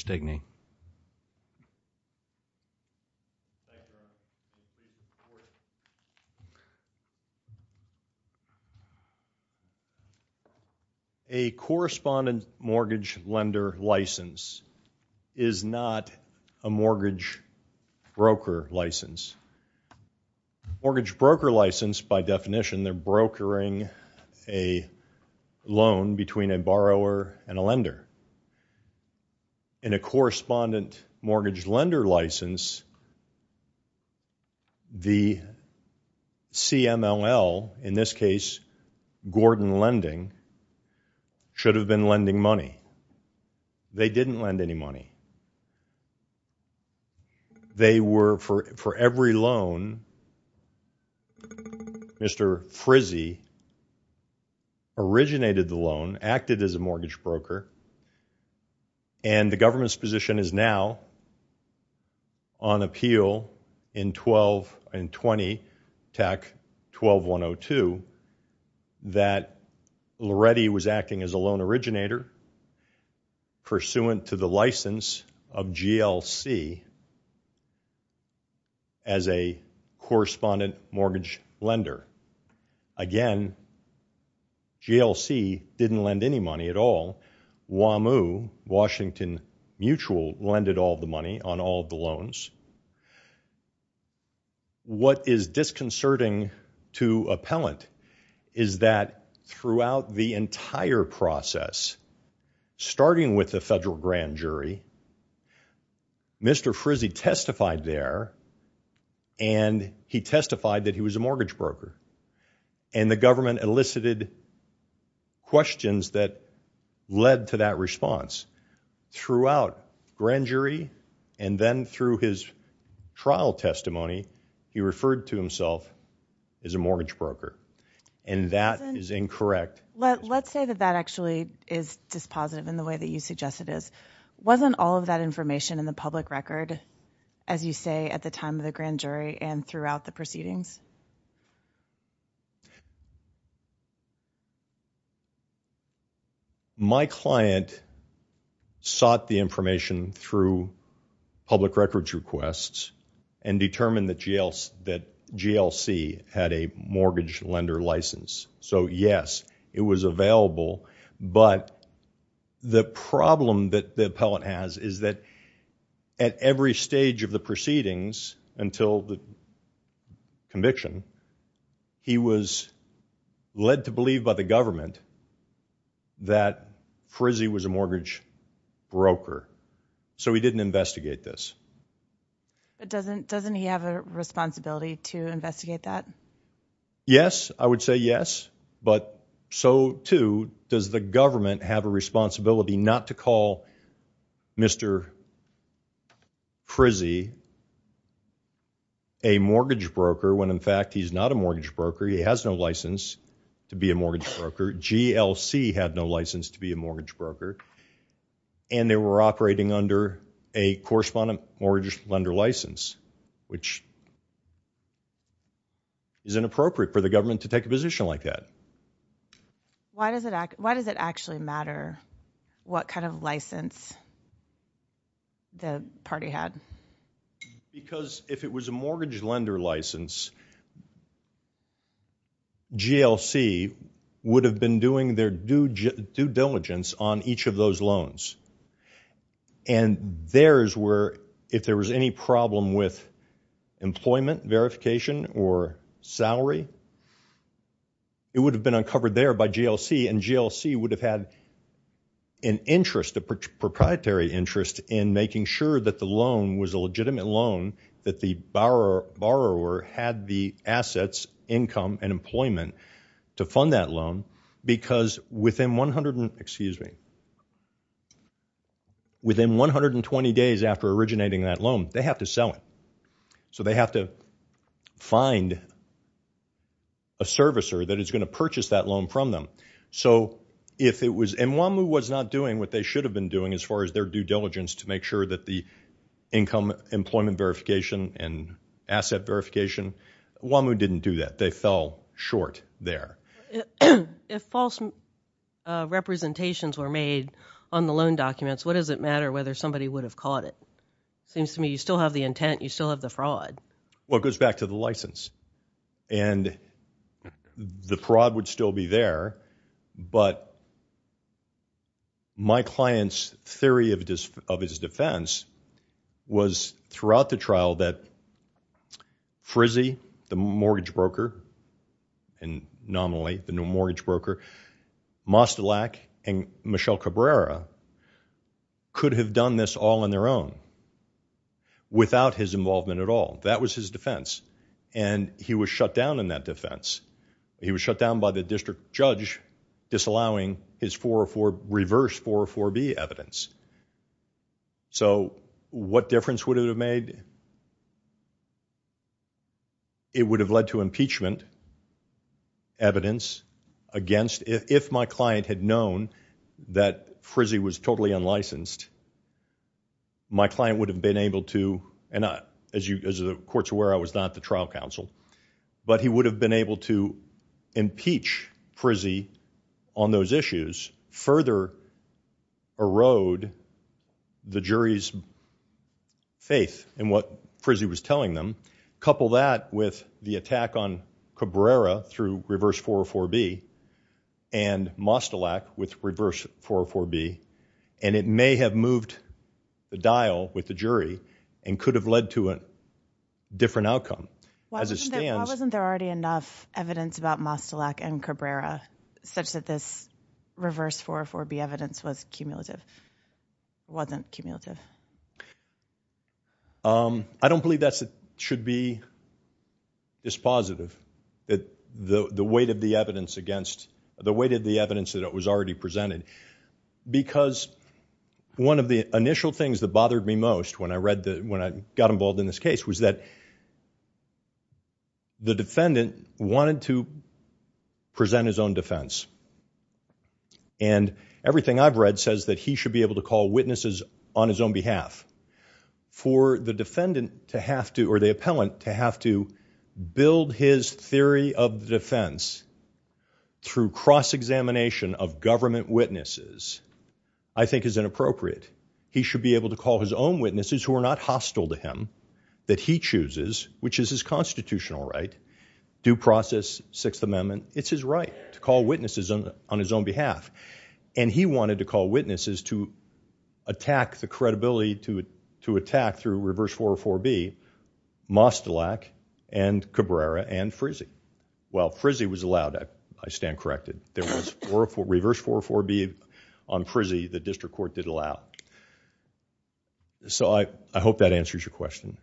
stigney a correspondent mortgage lender license is not a mortgage broker license mortgage broker license by definition the brokering loan between a borrower and a lender in a correspondent mortgage lender license the CMLL in this case Gordon Lending should have been lending money they didn't lend any money they were for Mr. Frizzi originated the loan acted as a mortgage broker and the government's position is now on appeal in 12 and 20 tech 12102 that already was acting as a loan originator pursuant to the license of GLC as a correspondent mortgage lender again GLC didn't lend any money at all wamu Washington mutual landed all the money on all the loans what is disconcerting to appellant is that throughout the entire process starting with the federal grand jury Mr. Frizzi testified there and he testified that he was a mortgage broker and the government elicited questions that led to that response throughout grand jury and then through his trial testimony he referred to himself as a mortgage broker and that is incorrect let let's say that that actually is just positive in the way that you suggest it is wasn't all that information in the public record as you say at the time the grand jury and throughout the proceedings my client sought the information through public records requests and determine the jails that GLC had a mortgage lender license so yes it was available but the problem that the appellant has is that at every stage of the proceedings until the conviction he was led to believe by the government that Frizzi was a mortgage broker so we didn't investigate this doesn't doesn't he have a responsibility to investigate that yes I would say yes but so too does the government have a responsibility not to call Mr. Frizzi a mortgage broker when in fact he's not a mortgage broker he has no license to be a mortgage broker GLC had no license to be a mortgage broker and they were operating under a correspondent mortgage lender license which is inappropriate for the government to take a position like that why does it act why does it actually matter what kind of license the party had because if it was a mortgage lender license GLC would have been doing their due due diligence on each of those loans and there's where if there was any problem with employment verification or salary it would've been uncovered there by GLC and GLC would have had an interest a proprietary interest in making sure that the loan was a legitimate loan that the borrower had the assets income and employment to fund that loan because within 100 excuse me within 120 days after originating that loan they have to sell it so they have to find a servicer that is going to purchase that loan from them so if it was in one who was not doing what they should have been doing as far as their due diligence to make sure that the income employment verification and asset verification one who didn't do that they fell short there if false representations were made on the loan documents what does it matter whether somebody would have caught it seems to me still have the intent you still have the fraud well it goes back to the license and the fraud would still be there but my clients theory of of his defense was throughout the trial that Frizze the mortgage broker and nominate the new mortgage broker Mostelak and Michelle Cabrera could have done this all on their own without his involvement at all that was his defense and he was shut down in that defense he was shut down by the district judge disallowing his 404 reverse 404B evidence so what difference would have made it would have led to impeachment evidence against if my client had known that Frizze was totally unlicensed my client would have been able to as the court's aware I was not the trial counsel but he would have been able to impeach Frizze on those issues further erode the jury's faith in what Frizze was telling them couple that with the attack on Cabrera through reverse 404B and Mostelak with reverse 404B and it may have moved the dial with the jury and could have led to a different outcome. Why wasn't there already enough evidence about Mostelak and Cabrera such that this reverse 404B evidence was cumulative wasn't cumulative I don't believe that should be dispositive that the the weight of the evidence against the weight of the evidence that was already presented because one of the initial things that bothered me most when I read that when I got involved in this case was that the defendant wanted to present his own defense and everything I've read says that he should be able to call witnesses on his own behalf for the defendant to have to or the appellant to have to build his theory of defense through cross-examination of government witnesses I think is inappropriate he should be able to call his own witnesses who are not hostile to him that he chooses which is his constitutional right due process Sixth Amendment it's his right to call witnesses on on his own behalf and he wanted to call witnesses to attack the credibility to to attack through reverse 404B Mostelak and Cabrera and Frizze Well Frizze was allowed I stand corrected there was reverse 404B on Frizze the district court did allow so I hope that answers your question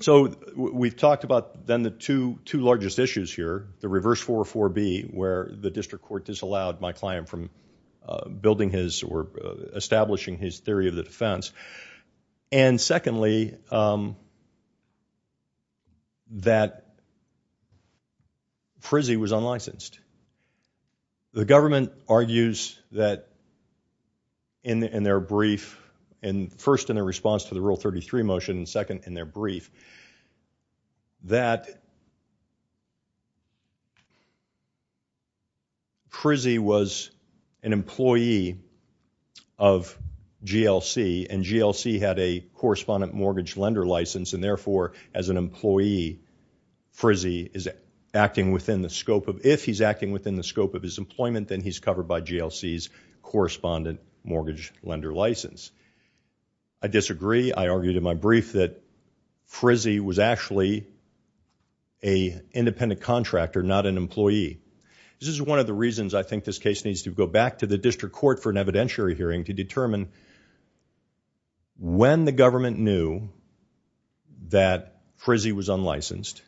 so we've talked about then the two largest issues here the reverse 404B where the district court disallowed my client from building his or establishing his theory of the defense and secondly that Frizze was unlicensed the government argues that in their brief and first in a response to the rule 33 motion second in their brief that Frizze was an employee of GLC and GLC had a correspondent mortgage lender license and therefore as an employee Frizze is acting within the scope of if he's acting within the scope of his employment then he's covered by GLC's correspondent mortgage lender license I disagree I argue to my brief that Frizze was actually a independent contractor not an employee this is one of the reasons I think this case needs to go back to the district court for an evidentiary hearing to determine when the government knew that Frizze was unlicensed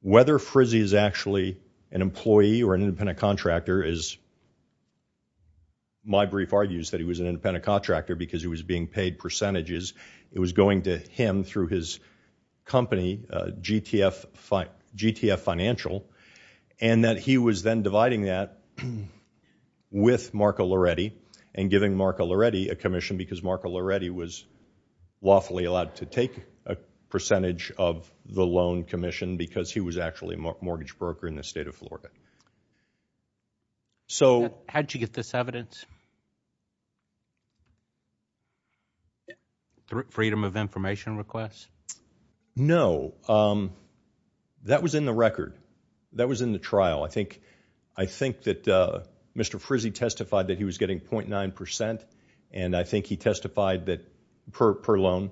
whether Frizze is actually an employee or an independent contractor is my brief argues that he was an independent contractor because he was being paid percentages it was going to him through his company GTF financial and that he was then dividing that with Marco Loretti and giving Marco Loretti a commission because Marco Loretti was lawfully allowed to take a percentage of the loan commission because he was actually a mortgage broker in the state of Florida so how'd you get this evidence freedom of information requests no that was in the record that was in the trial I think I think that Mr. Frizze testified that he was getting 0.9 percent and I think he testified that per loan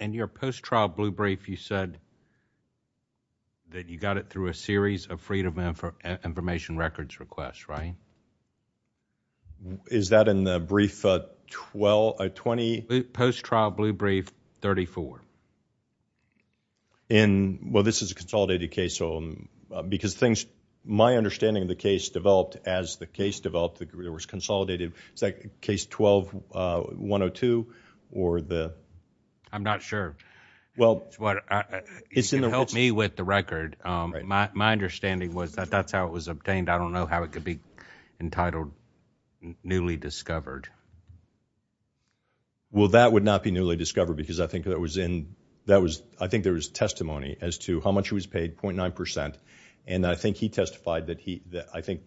in your post-trial blue brief you said that you got it through a series of freedom of information records requests right is that in the brief 12, 20 post-trial blue brief 34 well this is a consolidated case so because things my understanding the case developed as the case developed there was consolidated is that case 12, 102 or the I'm not sure well what it's in the help me with the record my my understanding was that that's how it was obtained I don't know how it could be entitled newly discovered well that would not be newly discovered because I think that was in that was I think there's testimony as to how much was paid 0.9 percent and I think he testified that he that I think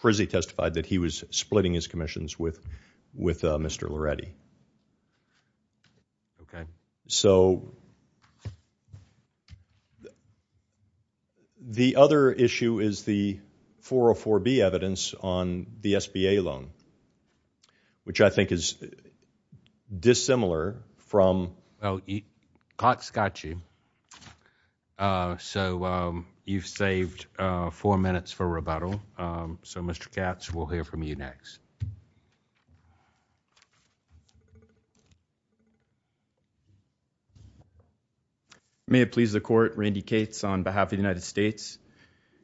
Frizze testified that he was splitting his commissions with with Mr. Loredi so the other issue is the 404B evidence on the SBA loan which I think is dissimilar from eat hot scotchy so you've saved four minutes for rebuttal so Mr. Katz we'll hear from you next may it please the court Randy Katz on behalf the United States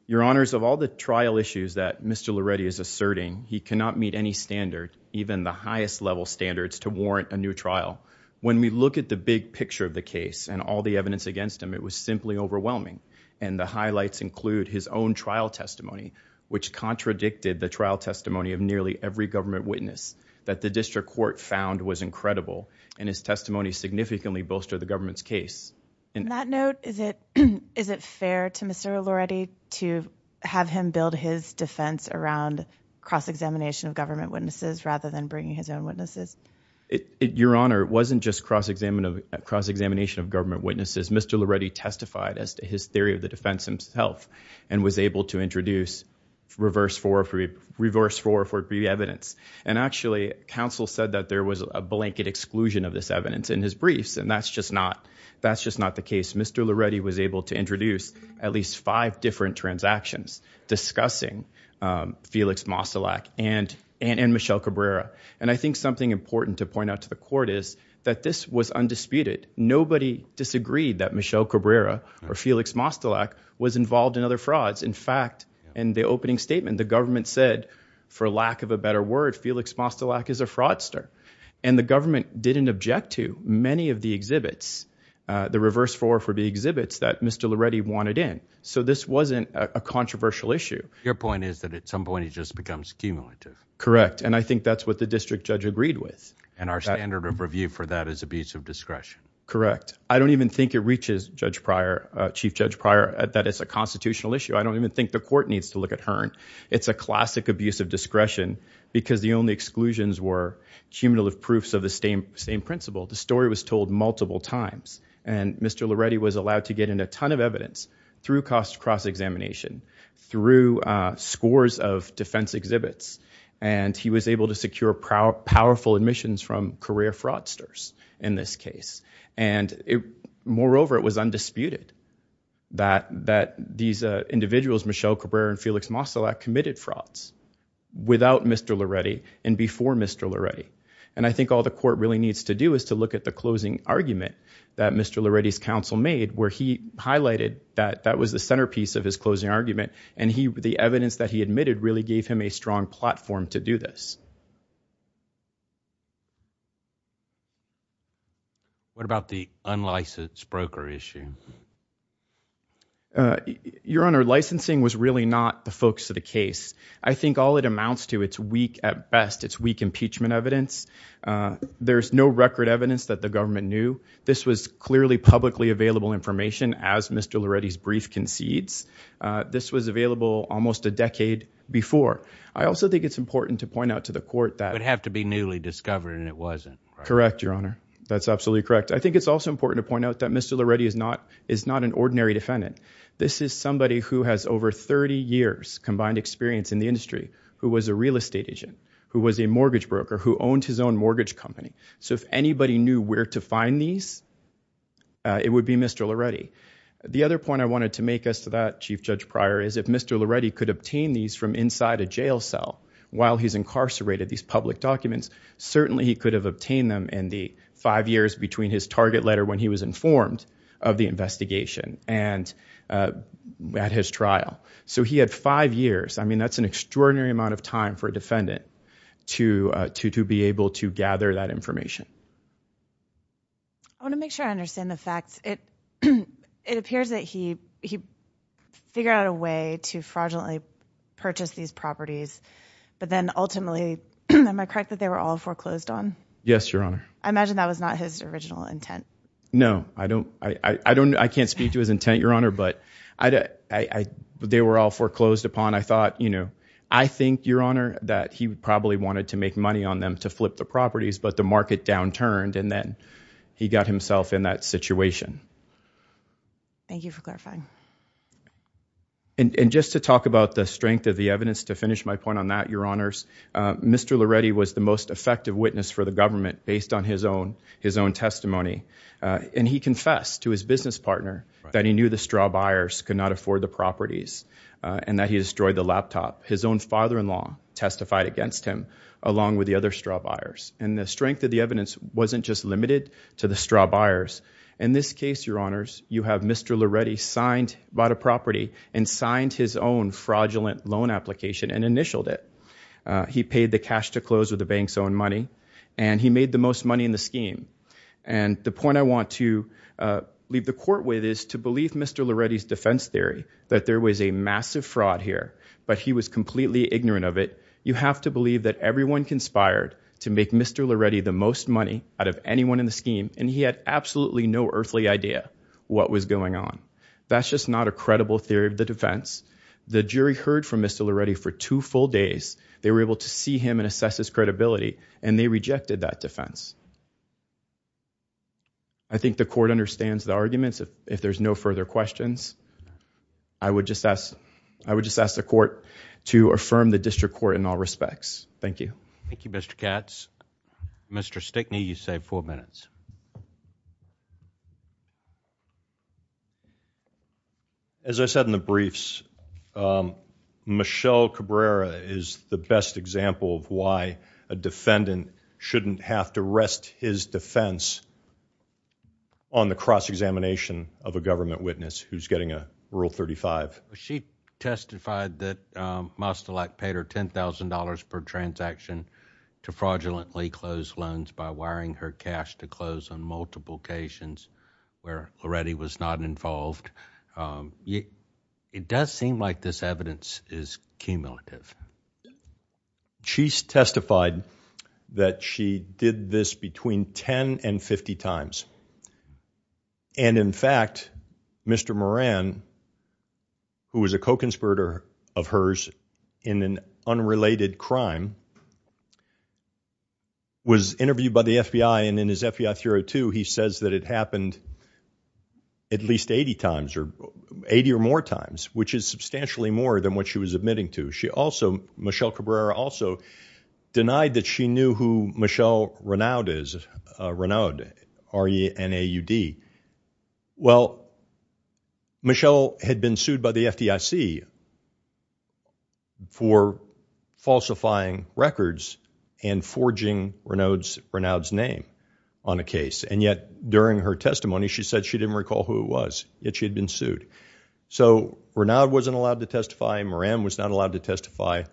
your honors of all the trial issues that Mr. Loredi is asserting he cannot meet any standard even the highest level standards to warrant a new trial when we look at the big picture the case and all the evidence against him it was simply overwhelming and the highlights include his own trial testimony which contradicted the trial testimony of nearly every government witness that the district court found was incredible and his testimony significantly bolster the government's case in that note is it is it fair to Mr. Loredi to have him build his defense around cross-examination of government witnesses rather than bringing his own witnesses it your honor wasn't just cross-examination of cross-examination of government witnesses Mr. Loredi testified as to his theory of the defense himself and was able to introduce reverse 404B reverse 404B evidence and actually council said that there was a blanket exclusion of this evidence in his briefs and that's just not that's just not the case Mr. Loredi was able to introduce at least five different transactions discussing Felix Mostolac and Michelle Cabrera and I think something important to point out to the court is that this was undisputed nobody disagreed that Michelle Cabrera or Felix Mostolac was involved in other frauds in fact in the opening statement the government said for lack of a better word Felix Mostolac is a fraudster and the government didn't object to many of the exhibits the reverse 404B exhibits that Mr. Loredi wanted in so this wasn't a controversial issue your point is that at some point it just becomes cumulative correct and I think that's what the district judge agreed with and our standard of review for that is abuse of discretion correct I don't even think it reaches Judge Pryor, Chief Judge Pryor that it's a constitutional issue I don't even think the court needs to look at Hearn it's a classic abuse of discretion because the only exclusions were cumulative proofs of the same principle the story was told multiple times and Mr. Loredi was allowed to get in a ton of evidence through cross examination through scores of defense exhibits and he was able to secure powerful admissions from career fraudsters in this case and moreover it was undisputed that that these individuals Michelle Cabrera and Felix Mostolac committed frauds without Mr. Loredi and before Mr. Loredi and I think all the court really needs to do is to look at the closing argument that Mr. Loredi's counsel made where he highlighted that that was the centerpiece of his closing argument and the evidence that he admitted really gave him a strong platform to do this What about the unlicensed broker issue? Your Honor, licensing was really not the focus of the case I think all it amounts to it's weak at best it's weak impeachment evidence there's no record evidence that the government knew this was clearly publicly available information as Mr. Loredi's brief concedes this was available almost a decade before I also think it's important to point out to the court that it would have to be newly discovered and it wasn't correct your honor that's absolutely correct I think it's also important to point out that Mr. Loredi is not is not an ordinary defendant this is somebody who has over 30 years combined experience in the industry who was a real estate agent who was a mortgage broker who owned his own mortgage company so if anybody knew where to find these it would be Mr. Loredi. The other point I wanted to make us to that Chief Judge Pryor is if Mr. Loredi could obtain these from inside a jail cell while he's incarcerated these public documents certainly he could have obtained them in the five years between his target letter when he was informed of the investigation and at his trial so he had five years I mean that's an extraordinary amount of time for a to to to be able to gather that information I want to make sure I understand the facts it it appears that he he figured out a way to fraudulently purchase these properties but then ultimately am I correct that they were all foreclosed on yes your honor I imagine that was not his original intent no I don't I I don't I can't speak to his intent your honor but I I they were all foreclosed upon I thought you know I think your honor that he probably wanted to make money on them to flip the properties but the market downturned and then he got himself in that situation thank you for clarifying and and just to talk about the strength of the evidence to finish my point on that your honors Mr. Loredi was the most effective witness for the government based on his own his own testimony and he confessed to his business partner that he knew the straw buyers could not afford the properties and that he destroyed the laptop his own father-in-law testified against him along with the other straw buyers and the strength of the evidence wasn't just limited to the straw buyers in this case your honors you have Mr. Loredi signed bought a property and signed his own fraudulent loan application and initialed it he paid the cash to close with the bank's own money and he made the most money in the scheme and the point I want to leave the court with is to believe Mr. Loredi's defense theory that there was a massive fraud here but he was completely ignorant of it you have to believe that everyone conspired to make Mr. Loredi the most money out of anyone in the scheme and he had absolutely no earthly idea what was going on that's just not a credible theory of the defense the jury heard from Mr. Loredi for two full days they were able to see him and assess his credibility and they rejected that defense I think the court understands the arguments if there's no further questions I would just ask I would just ask the court to affirm the district court in all respects thank you thank you Mr. Katz Mr. Stickney you save four minutes as I said in the briefs Michelle Cabrera is the best example of why a defendant shouldn't have to rest his defense on the cross-examination of a government witness who's getting a rule 35 she testified that Mostolak paid her $10,000 per transaction to fraudulently close loans by wiring her cash to close on multiple occasions where Loredi was not involved it does seem like this evidence is cumulative she testified that she did this between 10 and 50 times and in fact Mr. Moran who was a co-conspirator of hers in an unrelated crime was interviewed by the FBI and in his FBI theory 2 he says that it happened at least 80 times or 80 or more times which is substantially more than what she was admitting to she also Michelle Cabrera also denied that she knew who Renaud is R-E-N-A-U-D well Michelle had been sued by the FDIC for falsifying records and forging Renaud's name on a case and yet during her testimony she said she didn't recall who it was yet she'd been sued so Renaud wasn't allowed to testify Moran was not allowed to testify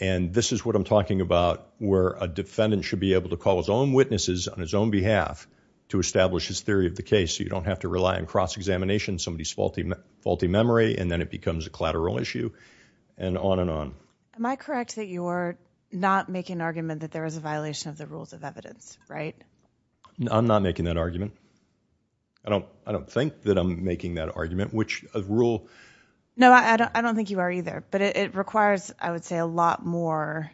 and this is what I'm talking about where a defendant should be able to call his own witnesses on his own behalf to establish his theory of the case you don't have to rely on cross-examination somebody's faulty faulty memory and then it becomes a collateral issue and on and on Am I correct that you're not making an argument that there is a violation of the rules of evidence right? I'm not making that argument I don't think that I'm making that argument which rule... No I don't think you are either but it requires I would say a lot more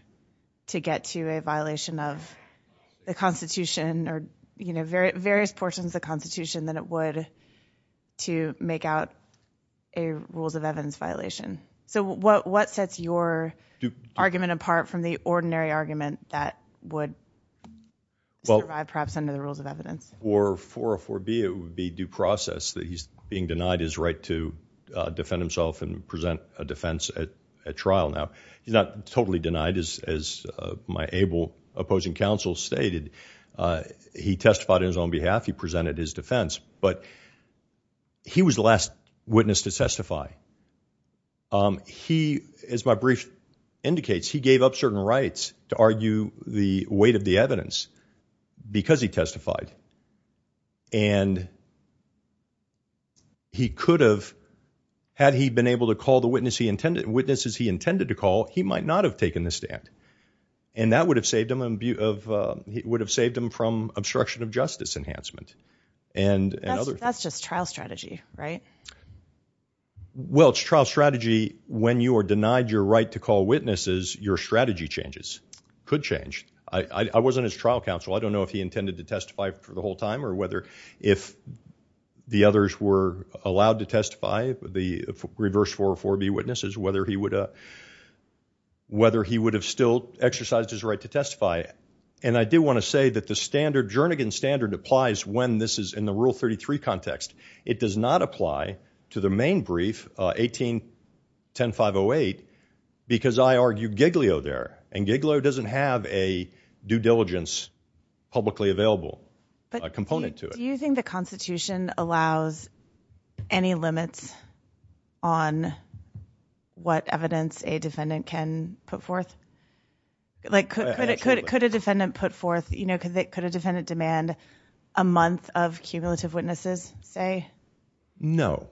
to get to a violation of the Constitution or you know various portions of the Constitution that it would to make out a rules of evidence violation so what sets your argument apart from the ordinary argument that would survive perhaps under the rules of evidence or 404B it would be due process that he's being denied his right to at trial now. He's not totally denied as my able opposing counsel stated he testified on his own behalf he presented his defense but he was the last witness to testify he as my brief indicates he gave up certain rights to argue the weight of the evidence because he testified and he could have had he been able to call the witnesses he intended to call he might not have taken the stand and that would have saved him from obstruction of justice enhancement and that's just trial strategy right? Well it's trial strategy when you are denied your right to call witnesses your strategy changes could change I wasn't his trial counsel I don't know if he intended to testify for the whole time or whether if the others were allowed to testify the reverse 404B witnesses whether he would whether he would have still exercised his right to testify and I do want to say that the standard Jernigan standard applies when this is in the rule 33 context it does not apply to the main brief 18 10508 because I argue Giglio there and Giglio doesn't have a due diligence publicly available a component to it. Do you think the Constitution allows any limits on what evidence a defendant can put forth? Like could a defendant put forth you know could a defendant demand a month of cumulative witnesses say? No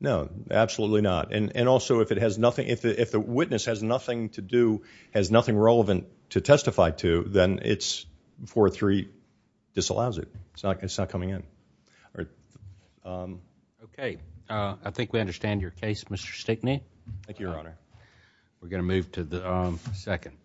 no absolutely not and also if it has nothing if the witness has nothing to do has nothing relevant to testify to then it's 403 disallows it. It's not coming in Okay I think we understand your case Mr. Stickney Thank you your honor. We're going to move to the second